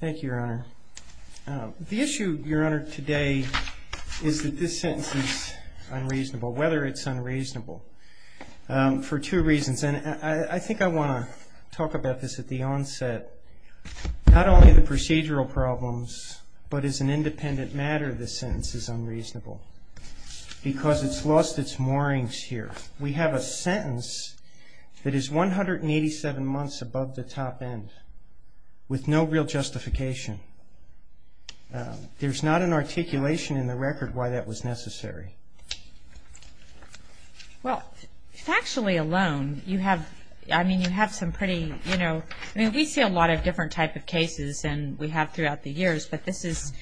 Thank you, Your Honor. The issue, Your Honor, today is that this sentence is unreasonable, whether it's unreasonable, for two reasons. And I think I want to talk about this at the onset. Not only the procedural problems, but as an independent matter, this sentence is unreasonable because it's lost its moorings here. We have a sentence that is 187 months above the top end with no real justification. There's not an articulation in the record why that was necessary. Well, factually alone, you have some pretty, you know, we see a lot of different types of cases and we have throughout the years, but this is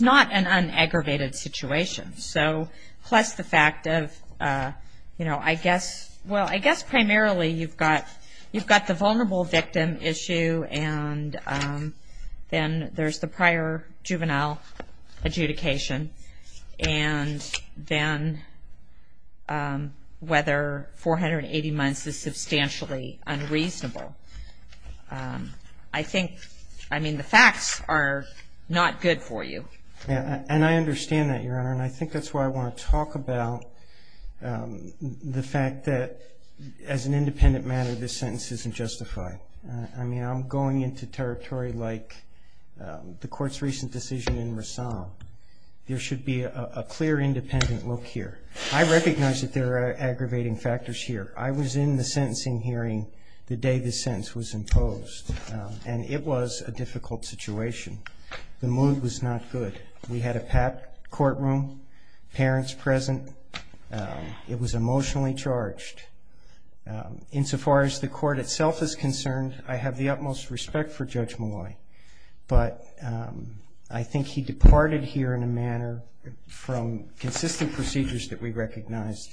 not an unaggravated situation. So, plus the fact of, you know, I guess, well, I guess primarily you've got the vulnerable victim issue and then there's the prior juvenile adjudication. And then whether 480 months is substantially unreasonable. I think, I mean, the facts are not good for you. And I understand that, Your Honor, and I think that's why I want to talk about the fact that as an independent matter, this sentence isn't justified. I mean, I'm going into territory like the Court's recent decision in Rassam. There should be a clear independent look here. I recognize that there are aggravating factors here. I was in the sentencing hearing the day this sentence was imposed. And it was a difficult situation. The mood was not good. We had a packed courtroom, parents present. It was emotionally charged. Insofar as the Court itself is concerned, I have the utmost respect for Judge Malloy. But I think he departed here in a manner from consistent procedures that we recognized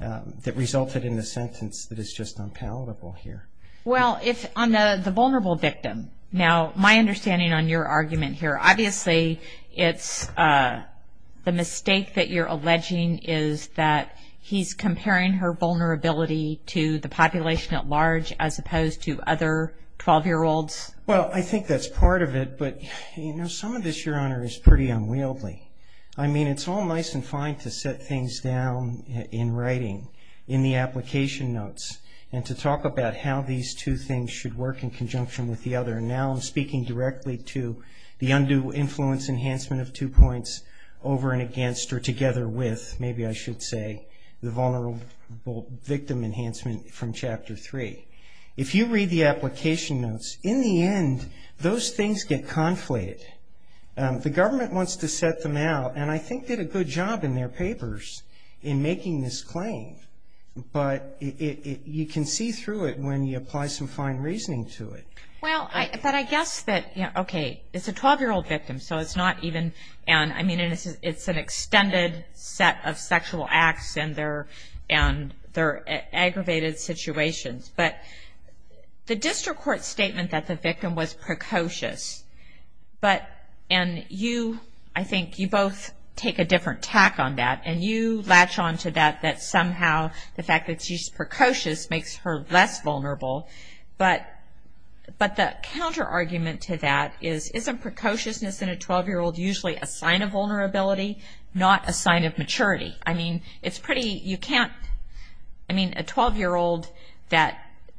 that resulted in a sentence that is just unpalatable here. Well, if on the vulnerable victim, now my understanding on your argument here, obviously it's the mistake that you're alleging is that he's comparing her vulnerability to the population at large as opposed to other 12-year-olds. Well, I think that's part of it. But, you know, some of this, Your Honor, is pretty unwieldy. I mean, it's all nice and fine to set things down in writing in the application notes and to talk about how these two things should work in conjunction with the other. Now I'm speaking directly to the undue influence enhancement of two points over and against or together with, maybe I should say, the vulnerable victim enhancement from Chapter 3. If you read the application notes, in the end, those things get conflated. The government wants to set them out, and I think did a good job in their papers in making this claim. But you can see through it when you apply some fine reasoning to it. Well, but I guess that, okay, it's a 12-year-old victim, so it's not even, I mean, it's an extended set of sexual acts and they're aggravated situations. But the district court statement that the victim was precocious, but, and you, I think you both take a different tack on that. And you latch on to that, that somehow the fact that she's precocious makes her less vulnerable. But the counter argument to that is, isn't precociousness in a 12-year-old usually a sign of vulnerability, not a sign of maturity? I mean, it's pretty, you can't, I mean, a 12-year-old that,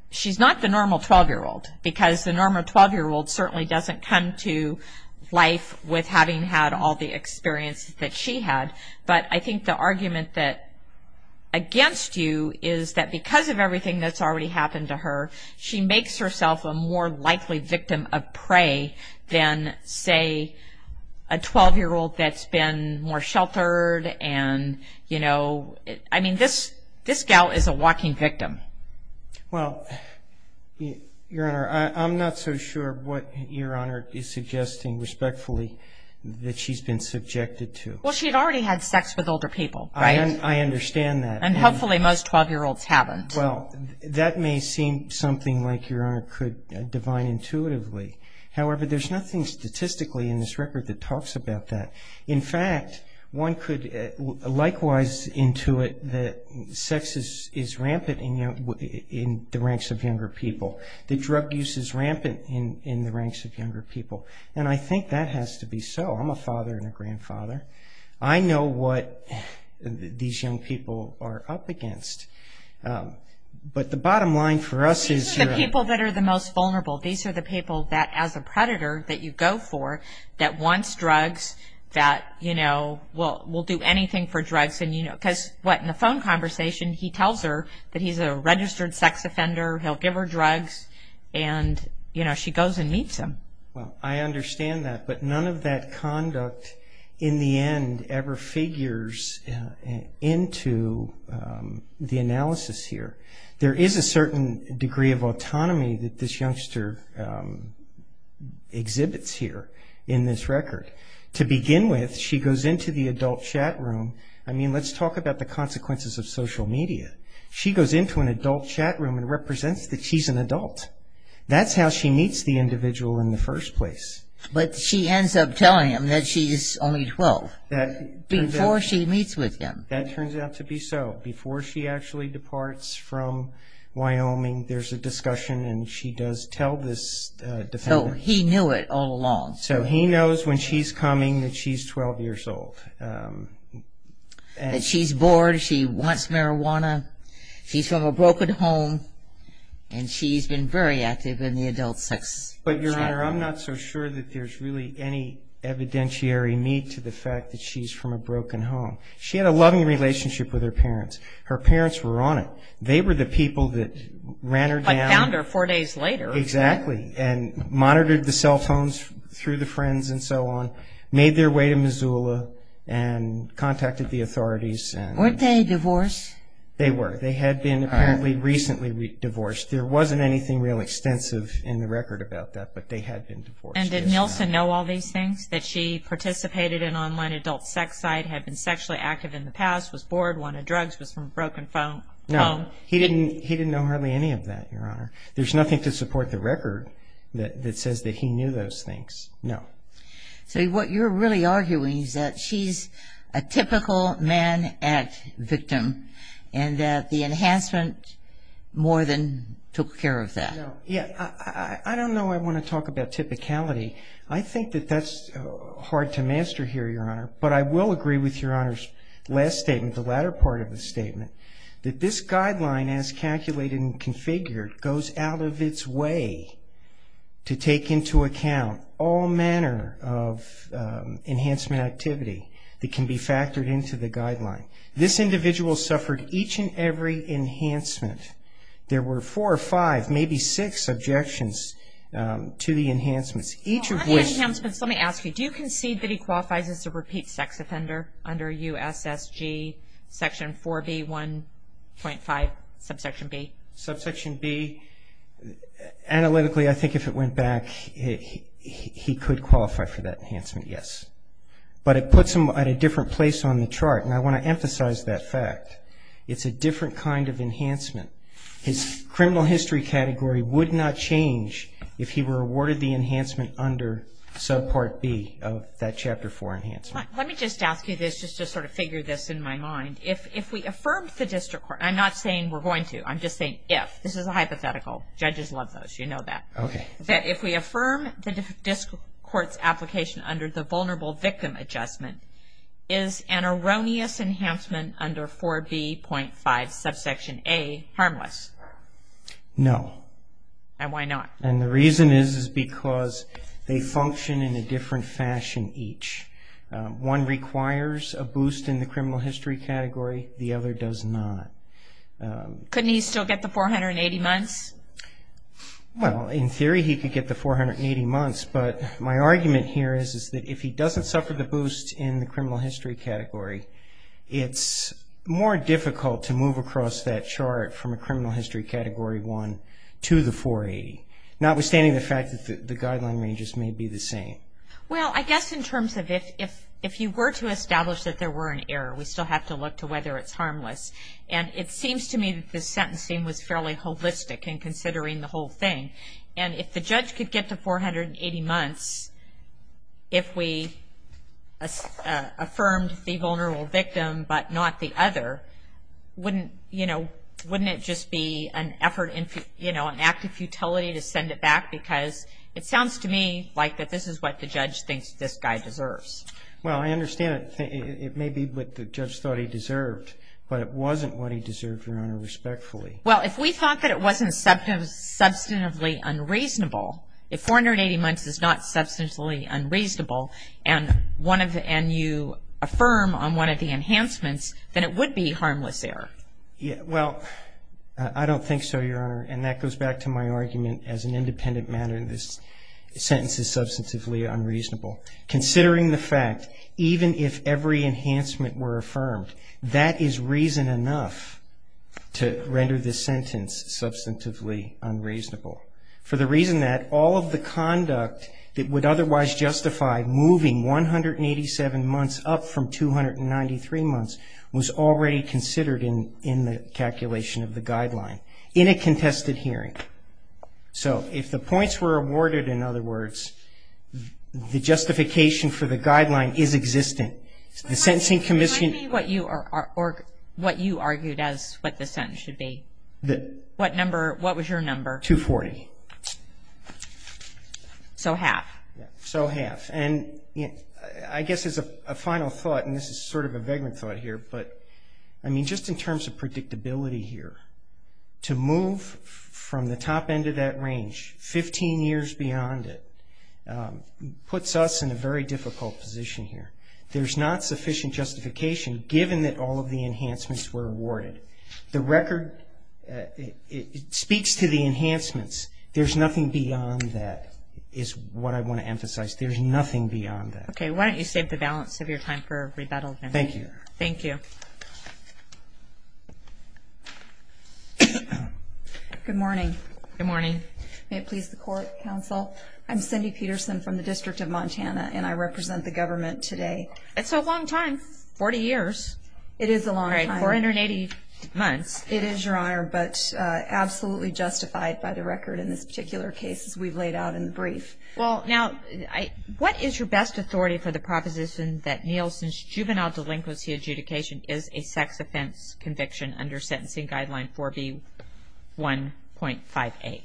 she's not the normal 12-year-old, because the normal 12-year-old certainly doesn't come to life with having had all the experience that she had. But I think the argument that, against you, is that because of everything that's already happened to her, she makes herself a more likely victim of prey than, say, a 12-year-old that's been more sheltered and, you know, I mean, this gal is a walking victim. Well, Your Honor, I'm not so sure what Your Honor is suggesting, respectfully, that she's been subjected to. Well, she had already had sex with older people, right? I understand that. And hopefully most 12-year-olds haven't. Well, that may seem something like Your Honor could divine intuitively. However, there's nothing statistically in this record that talks about that. In fact, one could likewise intuit that sex is rampant in the ranks of younger people, that drug use is rampant in the ranks of younger people, and I think that has to be so. I'm a father and a grandfather. I know what these young people are up against. But the bottom line for us is Your Honor. These are the people that are the most vulnerable. These are the people that, as a predator that you go for, that wants drugs, that, you know, will do anything for drugs. Because, what, in the phone conversation he tells her that he's a registered sex offender, he'll give her drugs, and, you know, she goes and meets him. Well, I understand that, but none of that conduct in the end ever figures into the analysis here. There is a certain degree of autonomy that this youngster exhibits here in this record. To begin with, she goes into the adult chat room. I mean, let's talk about the consequences of social media. She goes into an adult chat room and represents that she's an adult. That's how she meets the individual in the first place. But she ends up telling him that she's only 12 before she meets with him. That turns out to be so. Before she actually departs from Wyoming, there's a discussion, and she does tell this defendant. So he knew it all along. So he knows when she's coming that she's 12 years old. That she's bored, she wants marijuana, she's from a broken home, and she's been very active in the adult sex chat room. But, Your Honor, I'm not so sure that there's really any evidentiary need to the fact that she's from a broken home. She had a loving relationship with her parents. Her parents were on it. They were the people that ran her down. But found her four days later. Exactly. And monitored the cell phones through the friends and so on. Made their way to Missoula and contacted the authorities. Weren't they divorced? They were. They had been apparently recently divorced. There wasn't anything real extensive in the record about that, but they had been divorced. And did Nilsen know all these things? That she participated in an online adult sex site, had been sexually active in the past, was bored, wanted drugs, was from a broken home? No. He didn't know hardly any of that, Your Honor. There's nothing to support the record that says that he knew those things. No. So what you're really arguing is that she's a typical man at victim and that the enhancement more than took care of that. No. Yeah. I don't know I want to talk about typicality. I think that that's hard to master here, Your Honor. But I will agree with Your Honor's last statement, the latter part of the statement, that this guideline as calculated and configured goes out of its way to take into account all manner of enhancement activity that can be factored into the guideline. This individual suffered each and every enhancement. There were four or five, maybe six, objections to the enhancements. Let me ask you, do you concede that he qualifies as a repeat sex offender under U.S.S.G. Section 4B.1.5, subsection B? Subsection B, analytically, I think if it went back, he could qualify for that enhancement, yes. But it puts him at a different place on the chart, and I want to emphasize that fact. His criminal history category would not change if he were awarded the enhancement under subpart B of that Chapter 4 enhancement. Let me just ask you this, just to sort of figure this in my mind. If we affirm the district court, I'm not saying we're going to, I'm just saying if. This is a hypothetical. Judges love those. You know that. Okay. That if we affirm the district court's application under the Vulnerable Victim Adjustment, is an erroneous enhancement under 4B.5, subsection A, harmless? No. And why not? And the reason is because they function in a different fashion each. One requires a boost in the criminal history category. The other does not. Couldn't he still get the 480 months? Well, in theory he could get the 480 months, but my argument here is that if he doesn't suffer the boost in the criminal history category, it's more difficult to move across that chart from a criminal history Category 1 to the 480, notwithstanding the fact that the guideline ranges may be the same. Well, I guess in terms of if you were to establish that there were an error, we still have to look to whether it's harmless. And it seems to me that this sentencing was fairly holistic in considering the whole thing. And if the judge could get the 480 months if we affirmed the vulnerable victim but not the other, wouldn't it just be an act of futility to send it back? Because it sounds to me like this is what the judge thinks this guy deserves. Well, I understand it may be what the judge thought he deserved, but it wasn't what he deserved, Your Honor, respectfully. Well, if we thought that it wasn't substantively unreasonable, if 480 months is not substantively unreasonable and you affirm on one of the enhancements, then it would be harmless error. Well, I don't think so, Your Honor. And that goes back to my argument as an independent matter. This sentence is substantively unreasonable. Considering the fact, even if every enhancement were affirmed, that is reason enough to render this sentence substantively unreasonable. For the reason that all of the conduct that would otherwise justify moving 187 months up from 293 months was already considered in the calculation of the guideline in a contested hearing. So if the points were awarded, in other words, the justification for the guideline is existent. The sentencing commission... Can I see what you argued as what the sentence should be? What was your number? 240. So half. So half. And I guess as a final thought, and this is sort of a vagrant thought here, but I mean just in terms of predictability here, to move from the top end of that range 15 years beyond it puts us in a very difficult position here. There's not sufficient justification given that all of the enhancements were awarded. The record speaks to the enhancements. There's nothing beyond that is what I want to emphasize. There's nothing beyond that. Okay. Why don't you save the balance of your time for rebuttal then? Thank you. Thank you. Good morning. Good morning. May it please the court, counsel. I'm Cindy Peterson from the District of Montana, and I represent the government today. It's a long time. Forty years. It is a long time. All right, 480 months. It is, Your Honor, but absolutely justified by the record in this particular case as we've laid out in the brief. Well, now, what is your best authority for the proposition that Nielsen's juvenile delinquency adjudication is a sex offense conviction under sentencing guideline 4B1.58?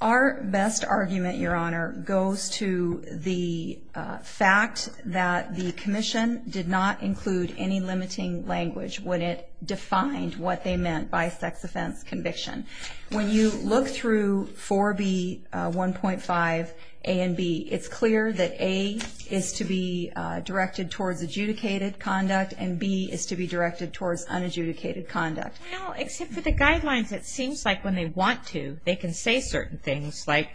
Our best argument, Your Honor, goes to the fact that the commission did not include any limiting language when it defined what they meant by sex offense conviction. When you look through 4B1.58 and B, it's clear that A is to be directed towards adjudicated conduct and B is to be directed towards unadjudicated conduct. Well, except for the guidelines, it seems like when they want to, they can say certain things, like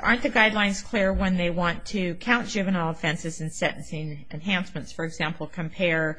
aren't the guidelines clear when they want to count juvenile offenses and sentencing enhancements? For example, compare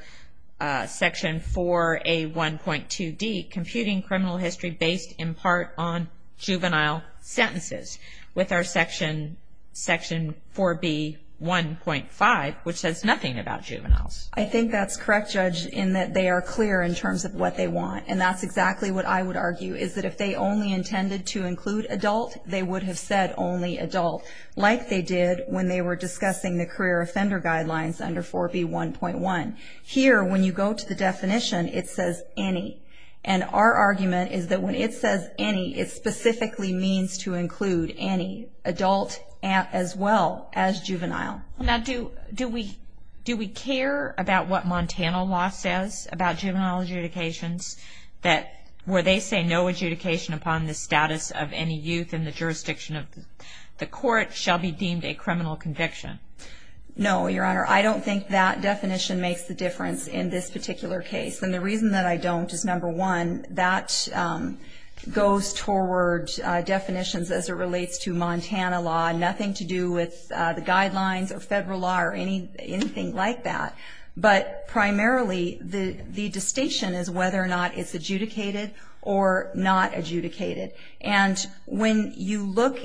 Section 4A1.2D, computing criminal history based in part on juvenile sentences, with our Section 4B1.5, which says nothing about juveniles. I think that's correct, Judge, in that they are clear in terms of what they want, and that's exactly what I would argue is that if they only intended to include adult, they would have said only adult, like they did when they were discussing the career offender guidelines under 4B1.1. Here, when you go to the definition, it says any, and our argument is that when it says any, it specifically means to include any, adult as well as juvenile. Now, do we care about what Montana law says about juvenile adjudications, where they say no adjudication upon the status of any youth in the jurisdiction of the court shall be deemed a criminal conviction? No, Your Honor. I don't think that definition makes the difference in this particular case, and the reason that I don't is, number one, that goes toward definitions as it relates to Montana law, nothing to do with the guidelines or federal law or anything like that, but primarily the distinction is whether or not it's adjudicated or not adjudicated. And when you look,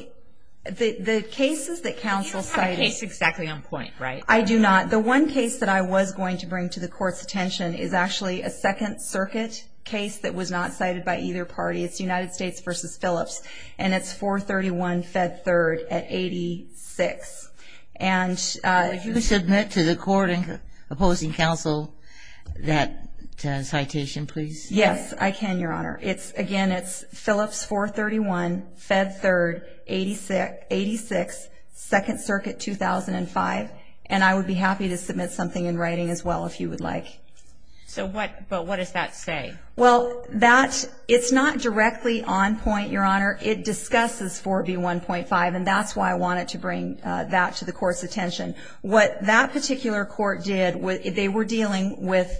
the cases that counsel cited — You don't have a case exactly on point, right? I do not. The one case that I was going to bring to the Court's attention is actually a Second Circuit case that was not cited by either party. It's United States v. Phillips, and it's 431-Fed 3rd at 86. Well, if you could submit to the court and opposing counsel that citation, please. Yes, I can, Your Honor. Again, it's Phillips 431-Fed 3rd, 86, Second Circuit, 2005, and I would be happy to submit something in writing as well if you would like. But what does that say? Well, it's not directly on point, Your Honor. It discusses 4B1.5, and that's why I wanted to bring that to the Court's attention. What that particular court did, they were dealing with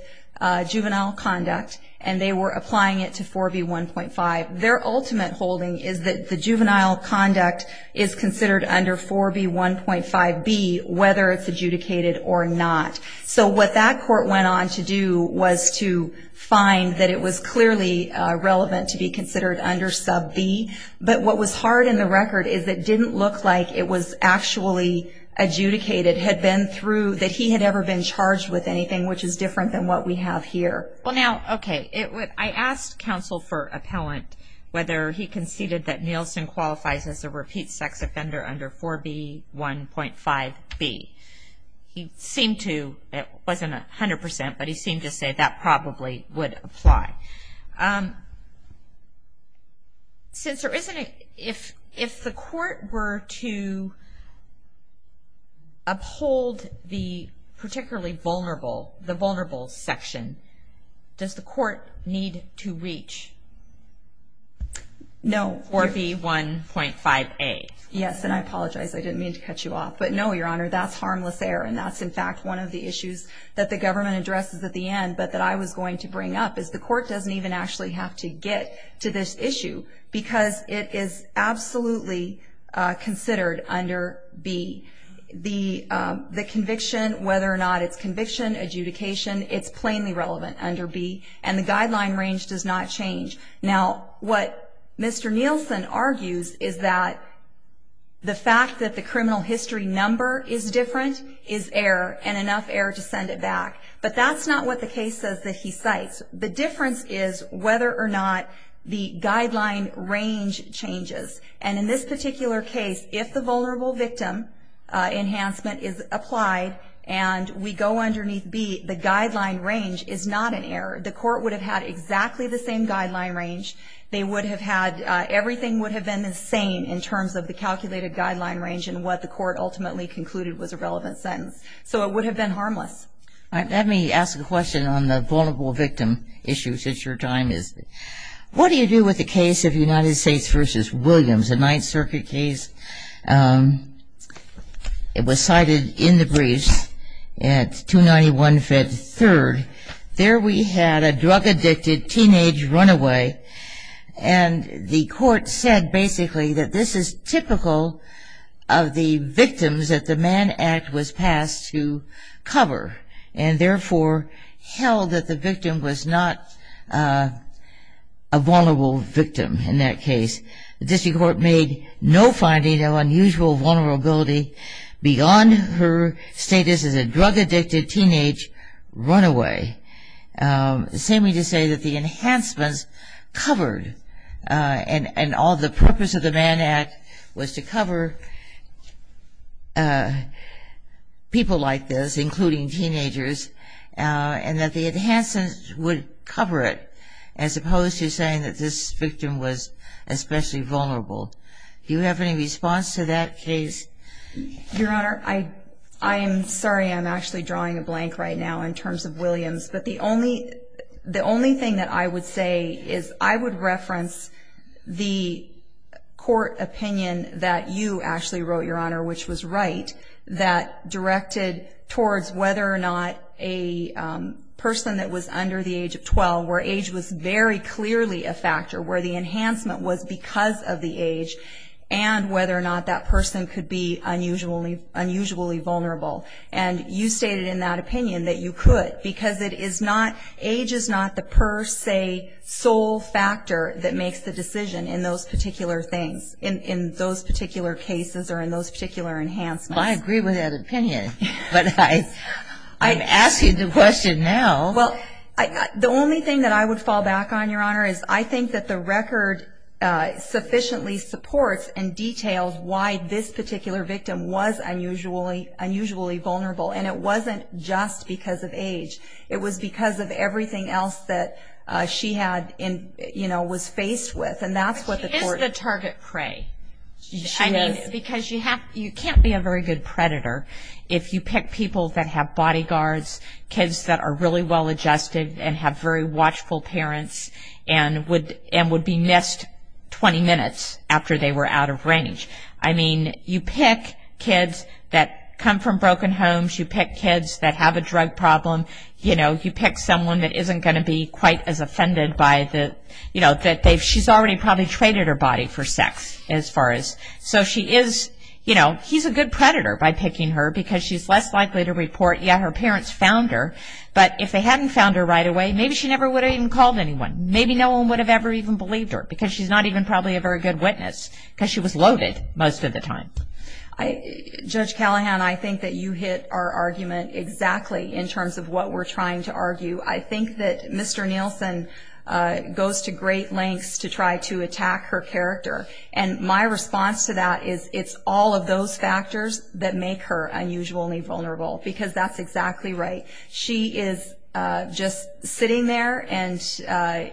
juvenile conduct, and they were applying it to 4B1.5. Their ultimate holding is that the juvenile conduct is considered under 4B1.5b, whether it's adjudicated or not. So what that court went on to do was to find that it was clearly relevant to be considered under sub B, but what was hard in the record is it didn't look like it was actually adjudicated, that he had ever been charged with anything which is different than what we have here. Well, now, okay, I asked counsel for appellant whether he conceded that Nielsen qualifies as a repeat sex offender under 4B1.5b. He seemed to, it wasn't 100%, but he seemed to say that probably would apply. Since there isn't a, if the court were to uphold the particularly vulnerable, the vulnerable section, does the court need to reach 4B1.5a? Yes, and I apologize. I didn't mean to cut you off, but no, Your Honor, that's harmless error, and that's, in fact, one of the issues that the government addresses at the end, but that I was going to bring up is the court doesn't even actually have to get to this issue because it is absolutely considered under B. The conviction, whether or not it's conviction, adjudication, it's plainly relevant under B, and the guideline range does not change. Now, what Mr. Nielsen argues is that the fact that the criminal history number is different is error, and enough error to send it back, but that's not what the case says that he cites. The difference is whether or not the guideline range changes, and in this particular case, if the vulnerable victim enhancement is applied and we go underneath B, the guideline range is not an error. The court would have had exactly the same guideline range. They would have had everything would have been the same in terms of the calculated guideline range and what the court ultimately concluded was a relevant sentence, so it would have been harmless. All right. Let me ask a question on the vulnerable victim issue since your time is. What do you do with the case of United States v. Williams, a Ninth Circuit case? It was cited in the briefs at 291-53rd. There we had a drug-addicted teenage runaway, and the court said basically that this is typical of the victims that the Mann Act was passed to cover and therefore held that the victim was not a vulnerable victim in that case. The district court made no finding of unusual vulnerability beyond her status as a drug-addicted teenage runaway. The same way to say that the enhancements covered and all the purpose of the Mann Act was to cover people like this, including teenagers, and that the enhancements would cover it I suppose you're saying that this victim was especially vulnerable. Do you have any response to that case? Your Honor, I'm sorry I'm actually drawing a blank right now in terms of Williams, but the only thing that I would say is I would reference the court opinion that you actually wrote, Your Honor, which was right, that directed towards whether or not a person that was under the age of 12, where age was very clearly a factor, where the enhancement was because of the age, and whether or not that person could be unusually vulnerable. And you stated in that opinion that you could because it is not, age is not the per se sole factor that makes the decision in those particular things, in those particular cases or in those particular enhancements. Well, I agree with that opinion, but I'm asking the question now. Well, the only thing that I would fall back on, Your Honor, is I think that the record sufficiently supports and details why this particular victim was unusually vulnerable, and it wasn't just because of age. It was because of everything else that she was faced with, and that's what the court. But she is the target prey. She is. Because you can't be a very good predator if you pick people that have bodyguards, kids that are really well adjusted and have very watchful parents and would be missed 20 minutes after they were out of range. I mean, you pick kids that come from broken homes. You pick kids that have a drug problem. You know, you pick someone that isn't going to be quite as offended by the, you know, that she's already probably traded her body for sex as far as. So she is, you know, he's a good predator by picking her because she's less likely to report, yeah, her parents found her, but if they hadn't found her right away, maybe she never would have even called anyone. Maybe no one would have ever even believed her because she's not even probably a very good witness because she was loaded most of the time. Judge Callahan, I think that you hit our argument exactly in terms of what we're trying to argue. I think that Mr. Nielsen goes to great lengths to try to attack her character, and my response to that is it's all of those factors that make her unusually vulnerable because that's exactly right. She is just sitting there and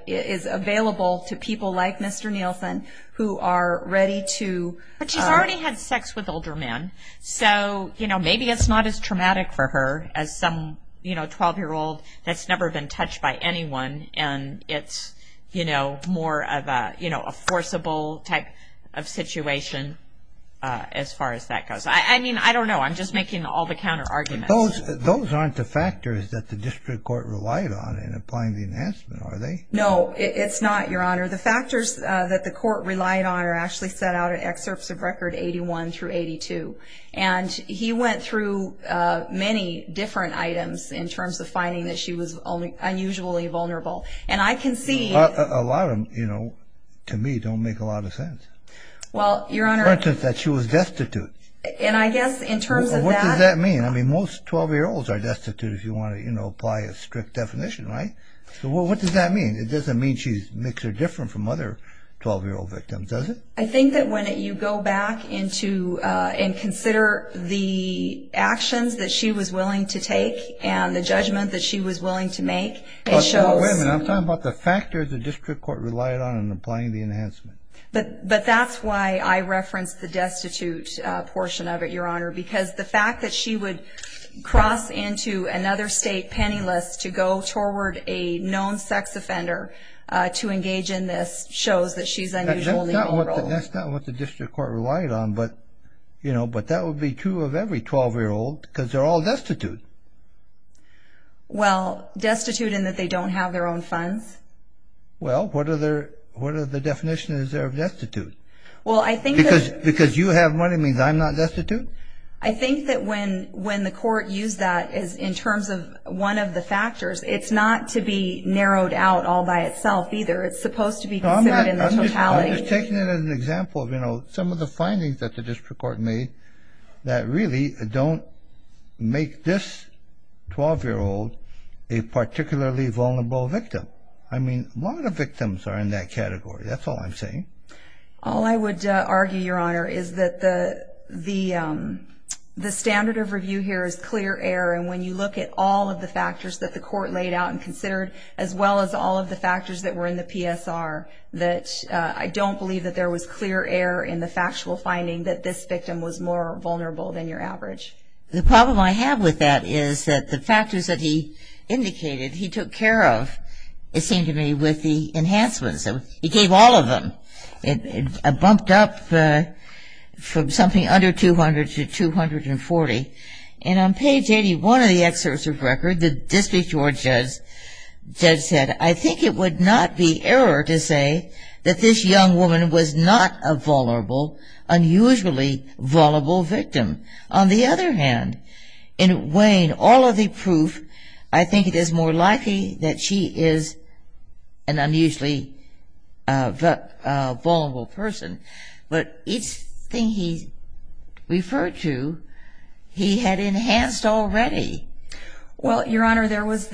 is available to people like Mr. Nielsen who are ready to... But she's already had sex with older men, so, you know, maybe it's not as traumatic for her as some, you know, 12-year-old that's never been touched by anyone and it's, you know, more of a, you know, a forcible type of situation as far as that goes. I mean, I don't know. I'm just making all the counterarguments. Those aren't the factors that the district court relied on in applying the enhancement, are they? No, it's not, Your Honor. The factors that the court relied on are actually set out in excerpts of Record 81 through 82, and he went through many different items in terms of finding that she was unusually vulnerable, and I can see... A lot of them, you know, to me don't make a lot of sense. Well, Your Honor... For instance, that she was destitute. And I guess in terms of that... Well, what does that mean? I mean, most 12-year-olds are destitute if you want to, you know, apply a strict definition, right? So what does that mean? It doesn't mean she makes her different from other 12-year-old victims, does it? I think that when you go back into and consider the actions that she was willing to take and the judgment that she was willing to make, it shows... Wait a minute. I'm talking about the factors the district court relied on in applying the enhancement. But that's why I referenced the destitute portion of it, Your Honor, because the fact that she would cross into another state penniless to go toward a known sex offender to engage in this shows that she's unusually vulnerable. That's not what the district court relied on, but, you know, but that would be true of every 12-year-old because they're all destitute. Well, destitute in that they don't have their own funds? Well, what are the definitions there of destitute? Well, I think that... Because you have money means I'm not destitute? I think that when the court used that in terms of one of the factors, it's not to be narrowed out all by itself either. It's supposed to be considered in the totality. I'm just taking it as an example of, you know, some of the findings that the district court made that really don't make this 12-year-old a particularly vulnerable victim. I mean, a lot of victims are in that category. That's all I'm saying. All I would argue, Your Honor, is that the standard of review here is clear error, and when you look at all of the factors that the court laid out and considered, as well as all of the factors that were in the PSR, that I don't believe that there was clear error in the factual finding that this victim was more vulnerable than your average. The problem I have with that is that the factors that he indicated he took care of, it seemed to me, with the enhancements. He gave all of them. It bumped up from something under 200 to 240, and on page 81 of the excerpt of the record, the district court judge said, I think it would not be error to say that this young woman was not a vulnerable, unusually vulnerable victim. On the other hand, in Wayne, all of the proof, I think it is more likely that she is an unusually vulnerable person. But each thing he referred to, he had enhanced already. Well, Your Honor, there was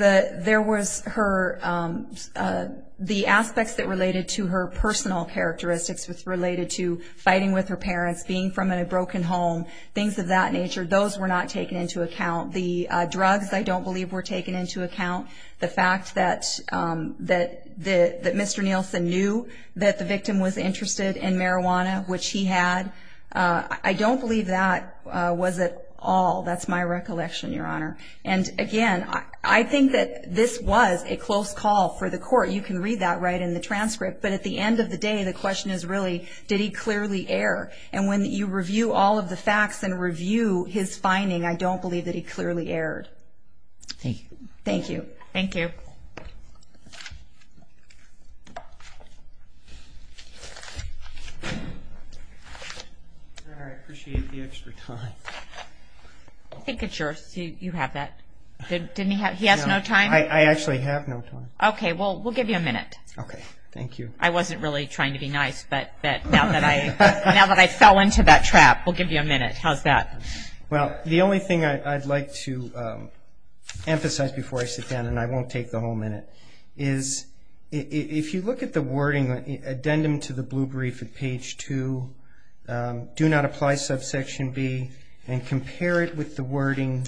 the aspects that related to her personal characteristics, related to fighting with her parents, being from a broken home, things of that nature, those were not taken into account. The drugs, I don't believe, were taken into account. The fact that Mr. Nielsen knew that the victim was interested in marijuana, which he had, I don't believe that was at all. That's my recollection, Your Honor. And again, I think that this was a close call for the court. You can read that right in the transcript. But at the end of the day, the question is really, did he clearly err? And when you review all of the facts and review his finding, I don't believe that he clearly erred. Thank you. Thank you. Thank you. I appreciate the extra time. I think it's yours. You have that. He has no time? I actually have no time. Okay. Well, we'll give you a minute. Okay. Thank you. I wasn't really trying to be nice, but now that I fell into that trap, we'll give you a minute. How's that? Well, the only thing I'd like to emphasize before I sit down, and I won't take the whole minute, is if you look at the wording, addendum to the blue brief at page 2, do not apply subsection B, and compare it with the wording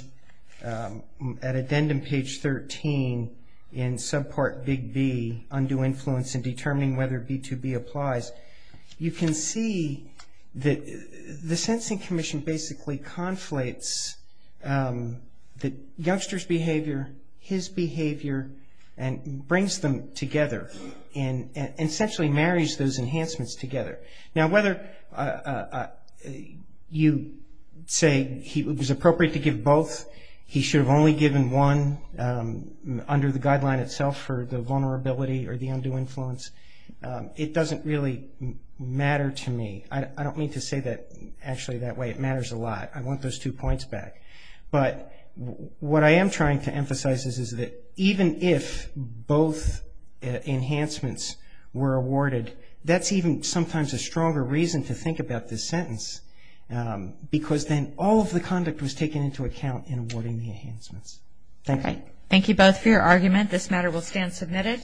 at addendum page 13 in subpart Big B, undue influence in determining whether B2B applies, you can see that the Sensing Commission basically conflates the youngster's behavior, his behavior, and brings them together and essentially marries those enhancements together. Now, whether you say it was appropriate to give both, he should have only given one, under the guideline itself for the vulnerability or the undue influence, it doesn't really matter to me. I don't mean to say that actually that way. It matters a lot. I want those two points back. But what I am trying to emphasize is that even if both enhancements were awarded, that's even sometimes a stronger reason to think about this sentence, because then all of the conduct was taken into account in awarding the enhancements. Thank you. Thank you both for your argument. This matter will stand submitted.